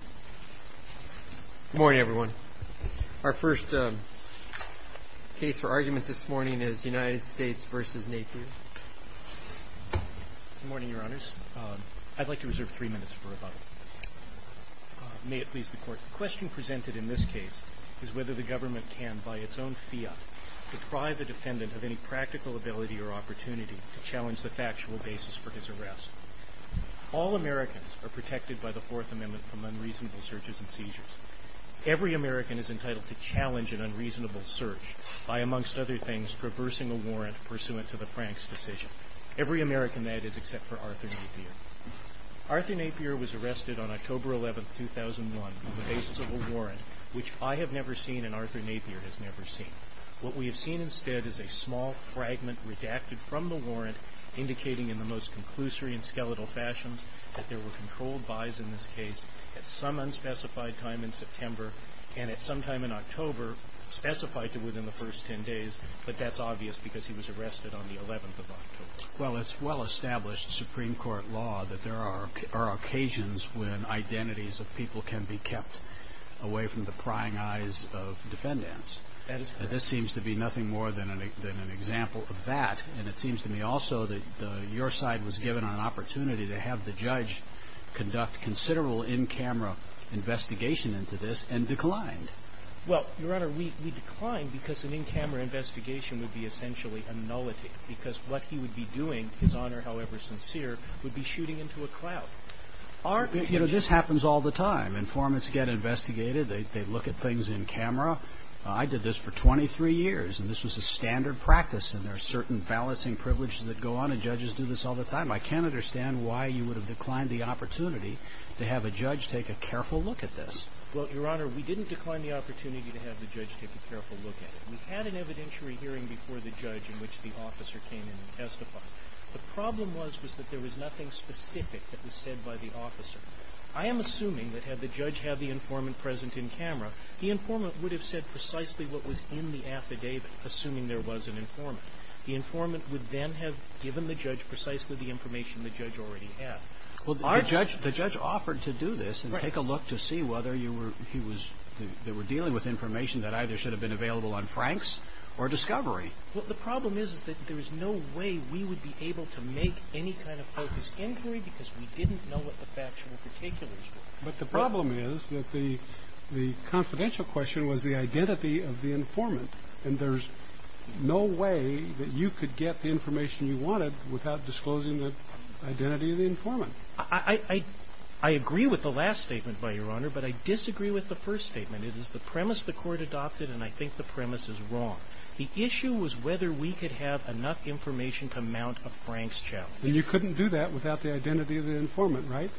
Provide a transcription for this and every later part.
Good morning, everyone. Our first case for argument this morning is United States v. Napier. Good morning, Your Honors. I'd like to reserve three minutes for rebuttal. May it please the Court. The question presented in this case is whether the government can, by its own fiat, deprive a defendant of any practical ability or opportunity to challenge the factual basis for his arrest. All Americans are protected by the Fourth Amendment from unreasonable searches and seizures. Every American is entitled to challenge an unreasonable search by, amongst other things, traversing a warrant pursuant to the Franks' decision. Every American, that is, except for Arthur Napier. Arthur Napier was arrested on October 11, 2001, on the basis of a warrant, which I have never seen and Arthur Napier has never seen. What we have seen instead is a small fragment redacted from the warrant indicating in the most conclusory and skeletal fashions that there were controlled buys in this case at some unspecified time in September and at some time in October specified to within the first 10 days, but that's obvious because he was arrested on the 11th of October. Well, it's well-established Supreme Court law that there are occasions when identities of people can be kept away from the prying eyes of defendants. That is correct. And this seems to be nothing more than an example of that, and it seems to me also that your side was given an opportunity to have the judge conduct considerable in-camera investigation into this and declined. Well, Your Honor, we declined because an in-camera investigation would be essentially a nullity because what he would be doing, His Honor, however sincere, would be shooting into a cloud. You know, this happens all the time. Informants get investigated. They look at things in camera. I did this for 23 years, and this was a standard practice, and there are certain balancing privileges that go on, and judges do this all the time. I can't understand why you would have declined the opportunity to have a judge take a careful look at this. Well, Your Honor, we didn't decline the opportunity to have the judge take a careful look at it. We had an evidentiary hearing before the judge in which the officer came in and testified. The problem was was that there was nothing specific that was said by the officer. I am assuming that had the judge had the informant present in camera, the informant would have said precisely what was in the affidavit, assuming there was an informant. The informant would then have given the judge precisely the information the judge already had. Well, our judge – The judge offered to do this and take a look to see whether you were – he was – they were dealing with information that either should have been available on Franks or Discovery. Well, the problem is is that there is no way we would be able to make any kind of focused inquiry because we didn't know what the factual particulars were. But the problem is that the confidential question was the identity of the informant, and there's no way that you could get the information you wanted without disclosing the identity of the informant. I agree with the last statement by Your Honor, but I disagree with the first statement. It is the premise the Court adopted, and I think the premise is wrong. The issue was whether we could have enough information to mount a Franks challenge. And you couldn't do that without the identity of the informant, right?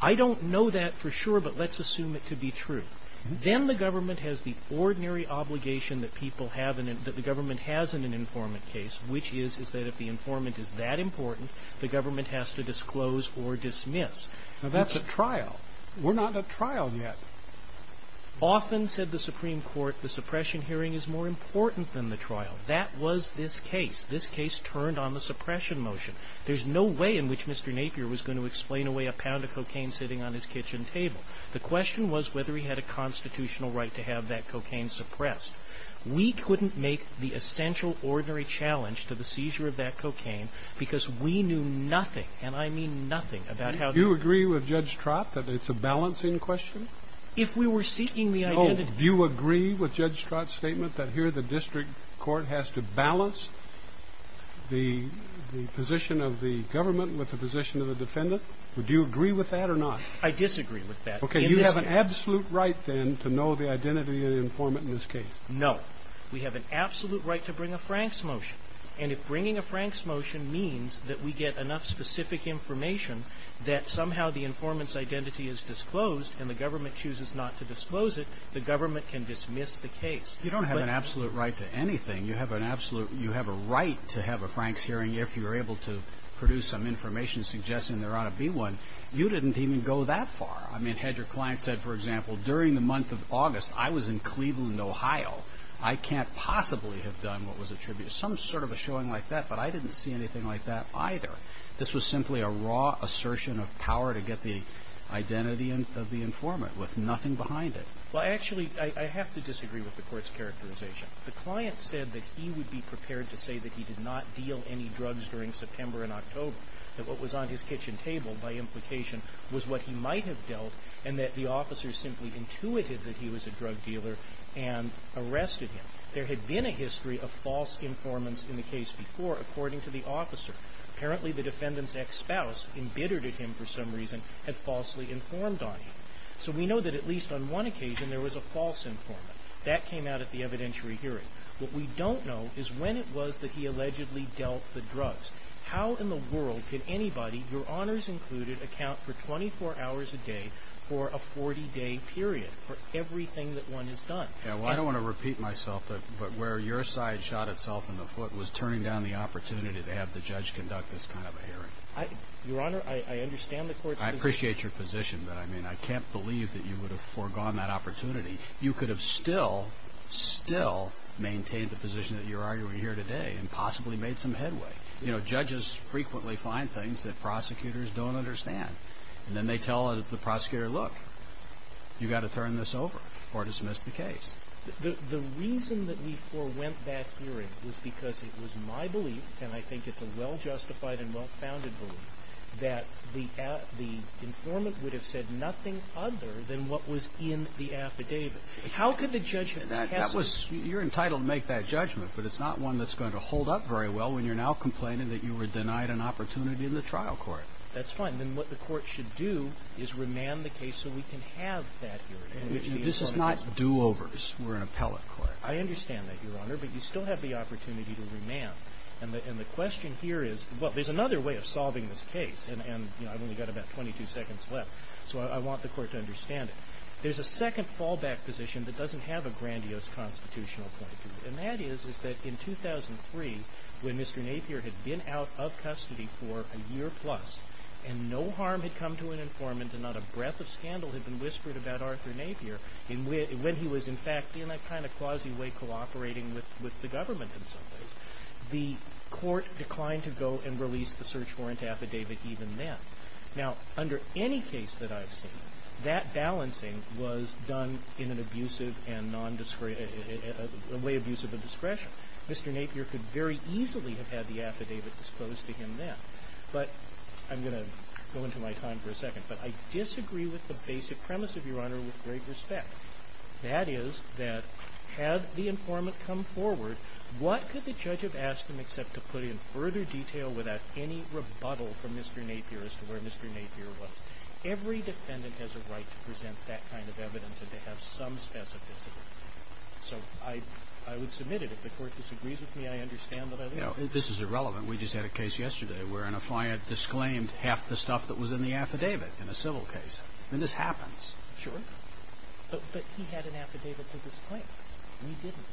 I don't know that for sure, but let's assume it to be true. Then the government has the ordinary obligation that people have – that the government has in an informant case, which is, is that if the informant is that important, the government has to disclose or dismiss. Now, that's a trial. We're not at trial yet. Often, said the Supreme Court, the suppression hearing is more important than the trial. That was this case. This case turned on the suppression motion. There's no way in which Mr. Napier was going to explain away a pound of cocaine sitting on his kitchen table. The question was whether he had a constitutional right to have that cocaine suppressed. We couldn't make the essential ordinary challenge to the seizure of that cocaine because we knew nothing, and I mean nothing, about how to – Do you agree with Judge Stratt that it's a balancing question? If we were seeking the identity – No. Do you agree with Judge Stratt's statement that here the district court has to balance the position of the government with the position of the defendant? Would you agree with that or not? I disagree with that. Okay. You have an absolute right, then, to know the identity of the informant in this case. No. We have an absolute right to bring a Franks motion. And if bringing a Franks motion means that we get enough specific information that somehow the informant's identity is disclosed and the government chooses not to disclose it, the government can dismiss the case. You don't have an absolute right to anything. You have an absolute – You have a right to have a Franks hearing if you're able to produce some information suggesting there ought to be one. You didn't even go that far. I mean, had your client said, for example, during the month of August, I was in Cleveland, Ohio. I can't possibly have done what was attributed – some sort of a showing like that. But I didn't see anything like that either. This was simply a raw assertion of power to get the identity of the informant with nothing behind it. Well, actually, I have to disagree with the court's characterization. The client said that he would be prepared to say that he did not deal any drugs during September and October, that what was on his kitchen table, by implication, was what he might have dealt, and that the officer simply intuited that he was a drug dealer and arrested him. There had been a history of false informants in the case before, according to the officer. Apparently, the defendant's ex-spouse, embittered at him for some reason, had falsely informed on him. So we know that at least on one occasion there was a false informant. That came out at the evidentiary hearing. What we don't know is when it was that he allegedly dealt the drugs. How in the world could anybody, Your Honors included, account for 24 hours a day for a 40-day period for everything that one has done? Well, I don't want to repeat myself, but where your side shot itself in the foot was turning down the opportunity to have the judge conduct this kind of a hearing. Your Honor, I understand the court's position. I appreciate your position, but, I mean, I can't believe that you would have foregone that opportunity. You could have still, still maintained the position that you're arguing here today and possibly made some headway. You know, judges frequently find things that prosecutors don't understand, and then they tell the prosecutor, look, you've got to turn this over or dismiss the case. The reason that we forewent that hearing was because it was my belief, and I think it's a well-justified and well-founded belief, that the informant would have said nothing other than what was in the affidavit. How could the judge have passed it? That was – you're entitled to make that judgment, but it's not one that's going to hold up very well when you're now complaining that you were denied an opportunity in the trial court. That's fine. Then what the court should do is remand the case so we can have that hearing. This is not do-overs. We're an appellate court. I understand that, Your Honor, but you still have the opportunity to remand. And the question here is – well, there's another way of solving this case, and, you know, I've only got about 22 seconds left, so I want the court to understand it. There's a second fallback position that doesn't have a grandiose constitutional point to it, and that is that in 2003, when Mr. Napier had been out of custody for a year plus and no harm had come to an informant and not a breath of scandal had been whispered about Arthur Napier, when he was in fact in a kind of quasi way cooperating with the government in some ways, the court declined to go and release the search warrant affidavit even then. Now, under any case that I've seen, that balancing was done in an abusive and non-discretion – a way abusive of discretion. Mr. Napier could very easily have had the affidavit disposed to him then. But I'm going to go into my time for a second, but I disagree with the basic premise of your Honor with great respect. That is that had the informant come forward, what could the judge have asked him except to put in further detail without any rebuttal from Mr. Napier as to where Mr. Napier was? Every defendant has a right to present that kind of evidence and to have some specificity. So I would submit it. If the court disagrees with me, I understand what I'm doing. This is irrelevant. We just had a case yesterday where an affiant disclaimed half the stuff that was in the affidavit in a civil case. I mean, this happens. Sure. But he had an affidavit to disclaim. We didn't.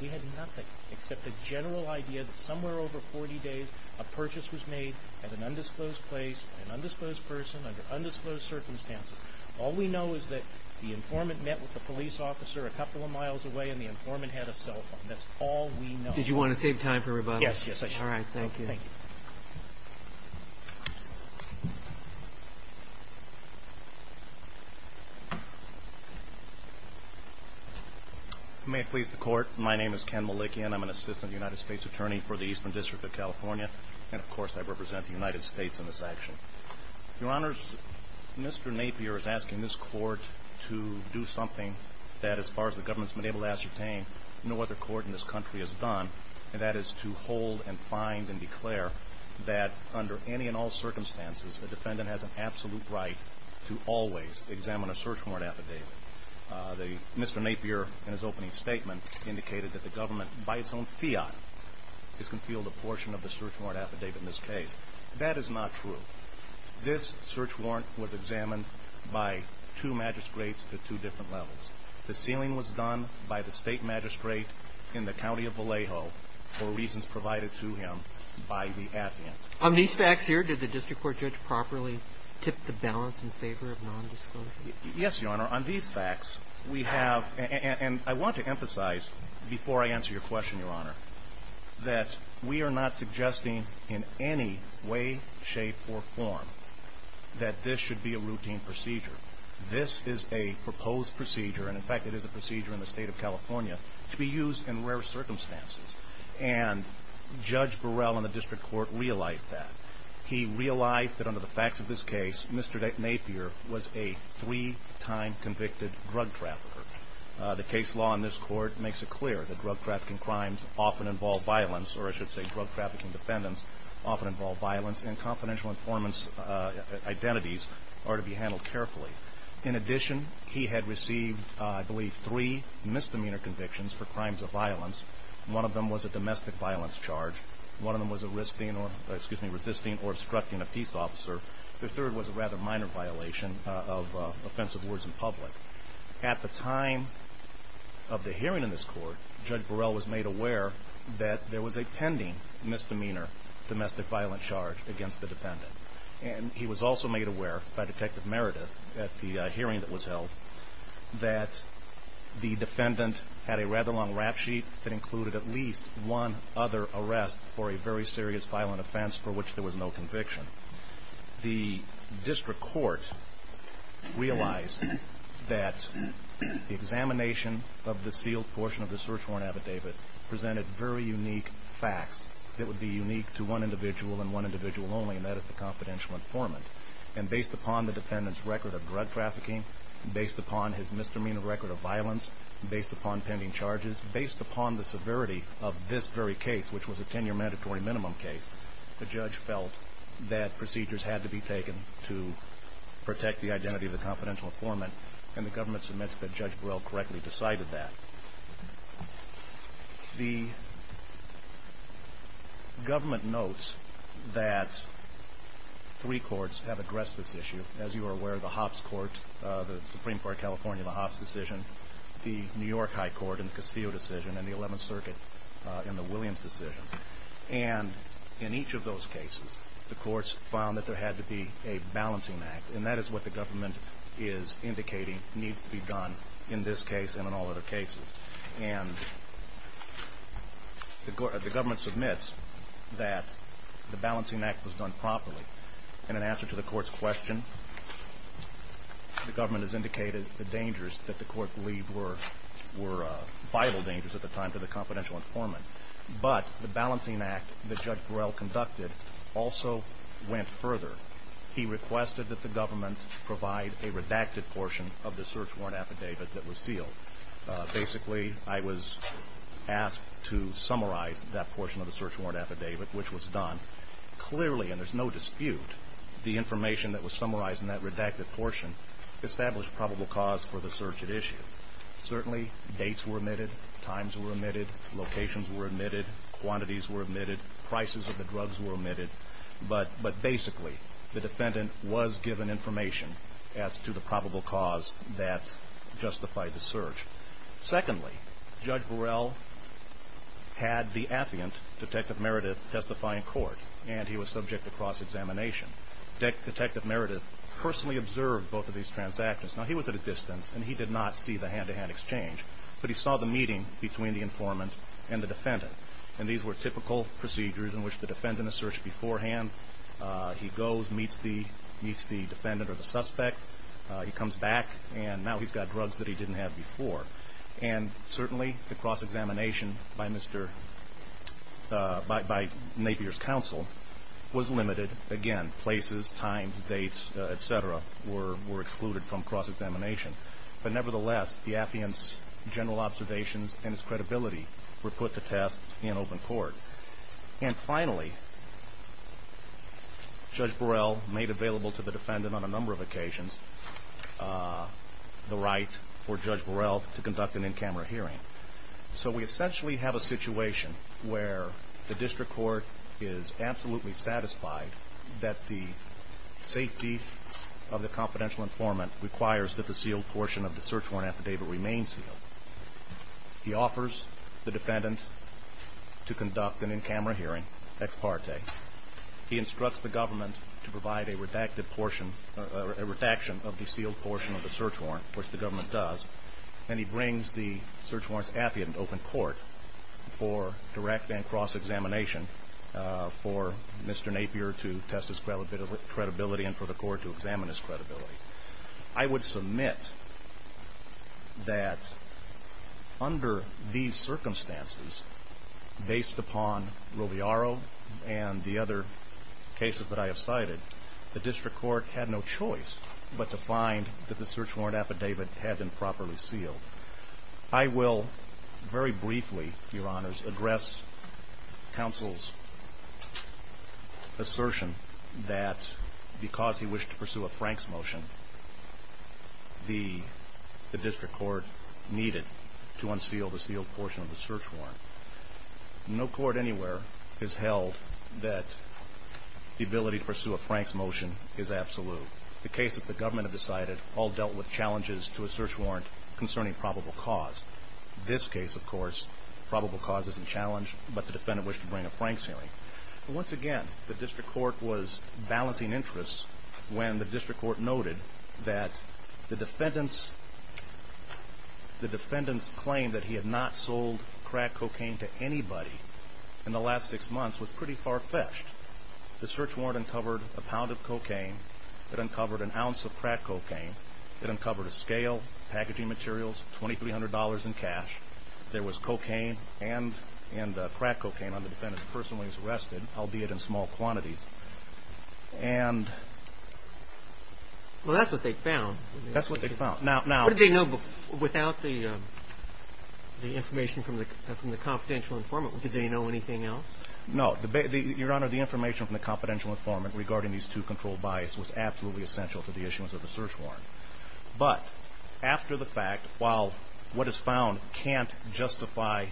We had nothing except a general idea that somewhere over 40 days, a purchase was made at an undisclosed place, an undisclosed person under undisclosed circumstances. All we know is that the informant met with the police officer a couple of miles away, and the informant had a cell phone. That's all we know. Did you want to save time for rebuttals? Yes, yes, I did. All right, thank you. Thank you. May it please the Court. My name is Ken Malikian. I'm an assistant United States attorney for the Eastern District of California, and, of course, I represent the United States in this action. Your Honors, Mr. Napier is asking this Court to do something that, as far as the government has been able to ascertain, no other court in this country has done, and that is to hold and find and declare that under any and all circumstances, a defendant has an absolute right to always examine a search warrant affidavit. Mr. Napier, in his opening statement, indicated that the government, by its own fiat, has concealed a portion of the search warrant affidavit in this case. That is not true. This search warrant was examined by two magistrates at two different levels. The sealing was done by the state magistrate in the county of Vallejo for reasons provided to him by the affidavit. On these facts here, did the district court judge properly tip the balance in favor of nondisclosure? Yes, Your Honor. On these facts, we have – and I want to emphasize, before I answer your question, Your Honor, that we are not suggesting in any way, shape, or form that this should be a routine procedure. This is a proposed procedure, and, in fact, it is a procedure in the State of California, to be used in rare circumstances. And Judge Burrell and the district court realized that. He realized that, under the facts of this case, Mr. Napier was a three-time convicted drug trafficker. The case law in this court makes it clear that drug trafficking crimes often involve violence, or I should say drug trafficking defendants often involve violence, and confidential informants' identities are to be handled carefully. In addition, he had received, I believe, three misdemeanor convictions for crimes of violence. One of them was a domestic violence charge. One of them was resisting or obstructing a peace officer. The third was a rather minor violation of offensive words in public. At the time of the hearing in this court, Judge Burrell was made aware that there was a pending misdemeanor domestic violence charge against the defendant. And he was also made aware, by Detective Meredith, at the hearing that was held, that the defendant had a rather long rap sheet that included at least one other arrest for a very serious violent offense for which there was no conviction. The district court realized that the examination of the sealed portion of the search warrant affidavit presented very unique facts that would be unique to one individual and one individual only, and that is the confidential informant. And based upon the defendant's record of drug trafficking, based upon his misdemeanor record of violence, based upon pending charges, based upon the severity of this very case, which was a 10-year mandatory minimum case, the judge felt that procedures had to be taken to protect the identity of the confidential informant, and the government submits that Judge Burrell correctly decided that. The government notes that three courts have addressed this issue. As you are aware, the Hops Court, the Supreme Court of California, the Hops decision, the New York High Court in the Castillo decision, and the Eleventh Circuit in the Williams decision. And in each of those cases, the courts found that there had to be a balancing act, and that is what the government is indicating needs to be done in this case and in all other cases. And the government submits that the balancing act was done properly, and in answer to the court's question, the government has indicated the dangers that the court believed were vital dangers at the time to the confidential informant. But the balancing act that Judge Burrell conducted also went further. He requested that the government provide a redacted portion of the search warrant affidavit that was sealed. Basically, I was asked to summarize that portion of the search warrant affidavit, which was done. Clearly, and there's no dispute, the information that was summarized in that redacted portion established probable cause for the search at issue. Certainly, dates were omitted, times were omitted, locations were omitted, quantities were omitted, prices of the drugs were omitted. But basically, the defendant was given information as to the probable cause that justified the search. Secondly, Judge Burrell had the affiant, Detective Meredith, testify in court, and he was subject to cross-examination. Detective Meredith personally observed both of these transactions. Now, he was at a distance, and he did not see the hand-to-hand exchange, but he saw the meeting between the informant and the defendant. And these were typical procedures in which the defendant is searched beforehand. He goes, meets the defendant or the suspect. He comes back, and now he's got drugs that he didn't have before. And certainly, the cross-examination by Napier's counsel was limited. Again, places, times, dates, et cetera, were excluded from cross-examination. But nevertheless, the affiant's general observations and his credibility were put to test in open court. And finally, Judge Burrell made available to the defendant on a number of occasions the right for Judge Burrell to conduct an in-camera hearing. So we essentially have a situation where the district court is absolutely satisfied that the safety of the confidential informant requires that the sealed portion of the search warrant affidavit remain sealed. He offers the defendant to conduct an in-camera hearing, ex parte. He instructs the government to provide a redacted portion or a redaction of the sealed portion of the search warrant, which the government does. And he brings the search warrant's affiant to open court for direct and cross-examination for Mr. Napier to test his credibility and for the court to examine his credibility. I would submit that under these circumstances, based upon Roviaro and the other cases that I have cited, the district court had no choice but to find that the search warrant affidavit had been properly sealed. I will very briefly, Your Honors, address counsel's assertion that because he wished to pursue a Franks motion, the district court needed to unseal the sealed portion of the search warrant. No court anywhere has held that the ability to pursue a Franks motion is absolute. The cases the government have decided all dealt with challenges to a search warrant concerning probable cause. This case, of course, probable cause isn't challenged, but the defendant wished to bring a Franks hearing. Once again, the district court was balancing interests when the district court noted that the defendant's claim that he had not sold crack cocaine to anybody in the last six months was pretty far-fetched. The search warrant uncovered a pound of cocaine. It uncovered an ounce of crack cocaine. It uncovered a scale, packaging materials, $2,300 in cash. There was cocaine and crack cocaine on the defendant's purse when he was arrested, albeit in small quantities. Well, that's what they found. That's what they found. What did they know without the information from the confidential informant? Did they know anything else? No. Your Honor, the information from the confidential informant regarding these two controlled buys was absolutely essential to the issuance of the search warrant. But after the fact, while what is found can't justify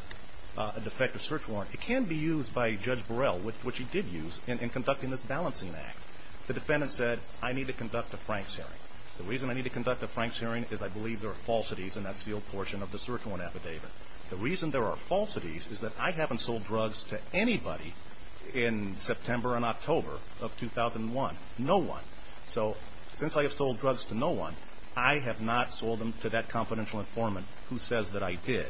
a defective search warrant, it can be used by Judge Burrell, which he did use, in conducting this balancing act. The defendant said, I need to conduct a Franks hearing. The reason I need to conduct a Franks hearing is I believe there are falsities in that sealed portion of the search warrant affidavit. The reason there are falsities is that I haven't sold drugs to anybody in September and October of 2001. No one. So since I have sold drugs to no one, I have not sold them to that confidential informant who says that I did.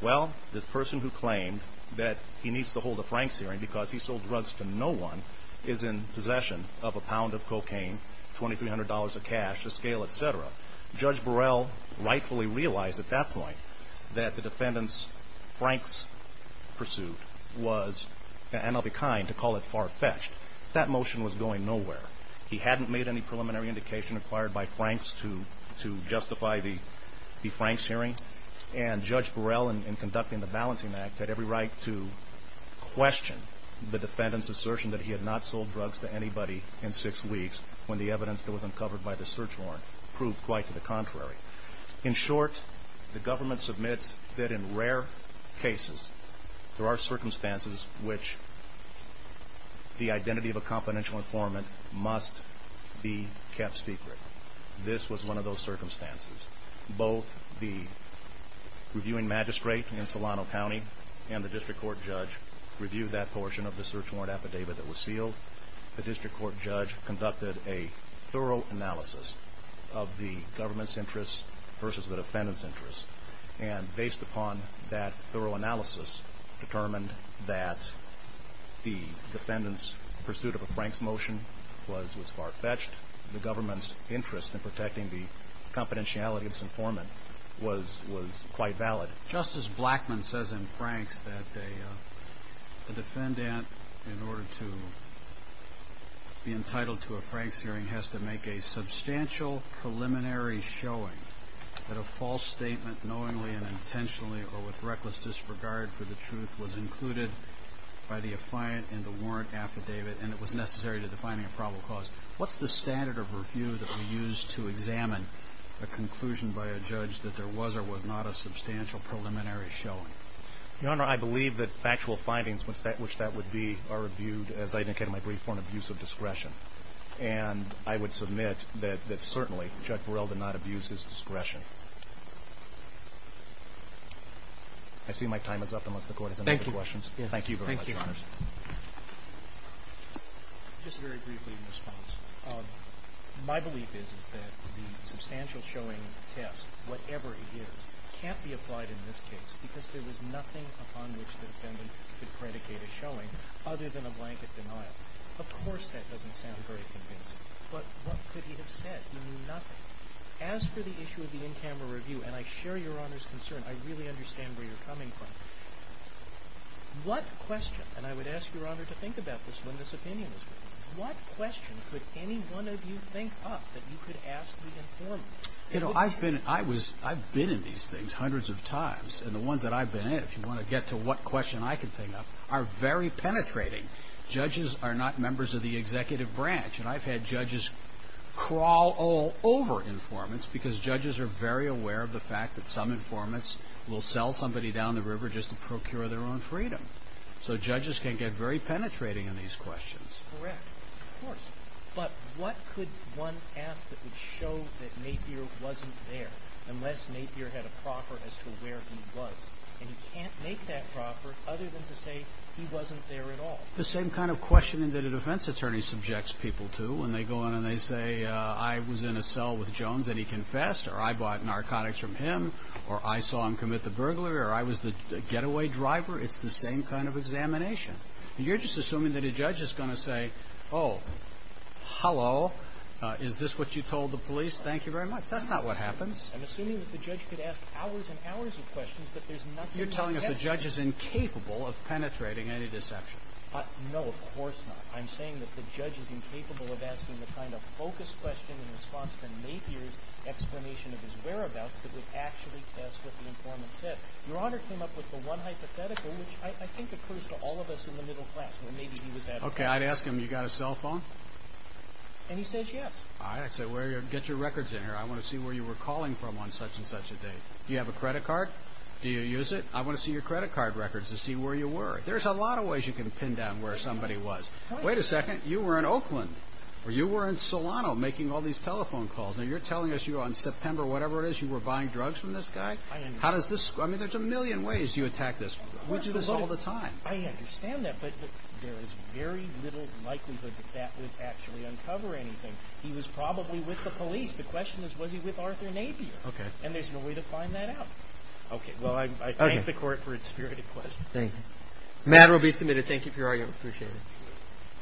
Well, the person who claimed that he needs to hold a Franks hearing because he sold drugs to no one is in possession of a pound of cocaine, $2,300 of cash, a scale, et cetera. Judge Burrell rightfully realized at that point that the defendant's Franks pursuit was, and I'll be kind to call it far-fetched. That motion was going nowhere. He hadn't made any preliminary indication required by Franks to justify the Franks hearing. And Judge Burrell, in conducting the balancing act, had every right to question the defendant's assertion that he had not sold drugs to anybody in six weeks when the evidence that was uncovered by the search warrant proved quite to the contrary. In short, the government submits that in rare cases there are circumstances in which the identity of a confidential informant must be kept secret. This was one of those circumstances. Both the reviewing magistrate in Solano County and the district court judge reviewed that portion of the search warrant affidavit that was sealed. The district court judge conducted a thorough analysis of the government's interests versus the defendant's interests, and based upon that thorough analysis determined that the defendant's pursuit of a Franks motion was far-fetched. The government's interest in protecting the confidentiality of this informant was quite valid. Justice Blackmun says in Franks that the defendant, in order to be entitled to a Franks hearing, has to make a substantial preliminary showing that a false statement knowingly and intentionally or with reckless disregard for the truth was included by the affiant in the warrant affidavit and it was necessary to defining a probable cause. What's the standard of review that we use to examine a conclusion by a judge that there was or was not a substantial preliminary showing? Your Honor, I believe that factual findings, which that would be, are reviewed, as I indicated in my brief, for an abuse of discretion. And I would submit that certainly Judge Burrell did not abuse his discretion. I see my time is up unless the Court has any other questions. Thank you. Thank you very much, Your Honors. Just very briefly in response. My belief is that the substantial showing test, whatever it is, can't be applied in this case because there was nothing upon which the defendant could predicate a showing other than a blanket denial. Of course, that doesn't sound very convincing. But what could he have said? He knew nothing. As for the issue of the in-camera review, and I share Your Honor's concern, I really understand where you're coming from. What question, and I would ask Your Honor to think about this when this opinion is reviewed, what question could any one of you think up that you could ask the informant? You know, I've been in these things hundreds of times, and the ones that I've been in, if you want to get to what question I can think of, are very penetrating. Judges are not members of the executive branch, and I've had judges crawl all over informants because judges are very aware of the fact that some informants will sell somebody down the river just to procure their own freedom. So judges can get very penetrating in these questions. Correct. Of course. But what could one ask that would show that Napier wasn't there, unless Napier had a proffer as to where he was? And you can't make that proffer other than to say he wasn't there at all. The same kind of questioning that a defense attorney subjects people to when they go in and they say, I was in a cell with Jones and he confessed, or I bought narcotics from him, or I saw him commit the burglary, or I was the getaway driver. It's the same kind of examination. You're just assuming that a judge is going to say, oh, hello, is this what you told the police? Thank you very much. That's not what happens. I'm assuming that the judge could ask hours and hours of questions, but there's nothing he can get to. You're telling us the judge is incapable of penetrating any deception. No, of course not. I'm saying that the judge is incapable of asking the kind of focused question in response to Napier's explanation of his whereabouts that would actually test what the informant said. Your Honor came up with the one hypothetical, which I think occurs to all of us in the middle class, where maybe he was at all the time. Okay, I'd ask him, you got a cell phone? And he says yes. All right, I'd say get your records in here. I want to see where you were calling from on such and such a date. Do you have a credit card? Do you use it? I want to see your credit card records to see where you were. There's a lot of ways you can pin down where somebody was. Wait a second. You were in Oakland, or you were in Solano making all these telephone calls. Now, you're telling us you were on September whatever it is, you were buying drugs from this guy? I understand. I mean, there's a million ways you attack this. We do this all the time. I understand that, but there is very little likelihood that that would actually uncover anything. He was probably with the police. The question is, was he with Arthur Napier? Okay. And there's no way to find that out. Okay. Well, I thank the court for its spirited question. Thank you. The matter will be submitted. Thank you for your argument. I appreciate it.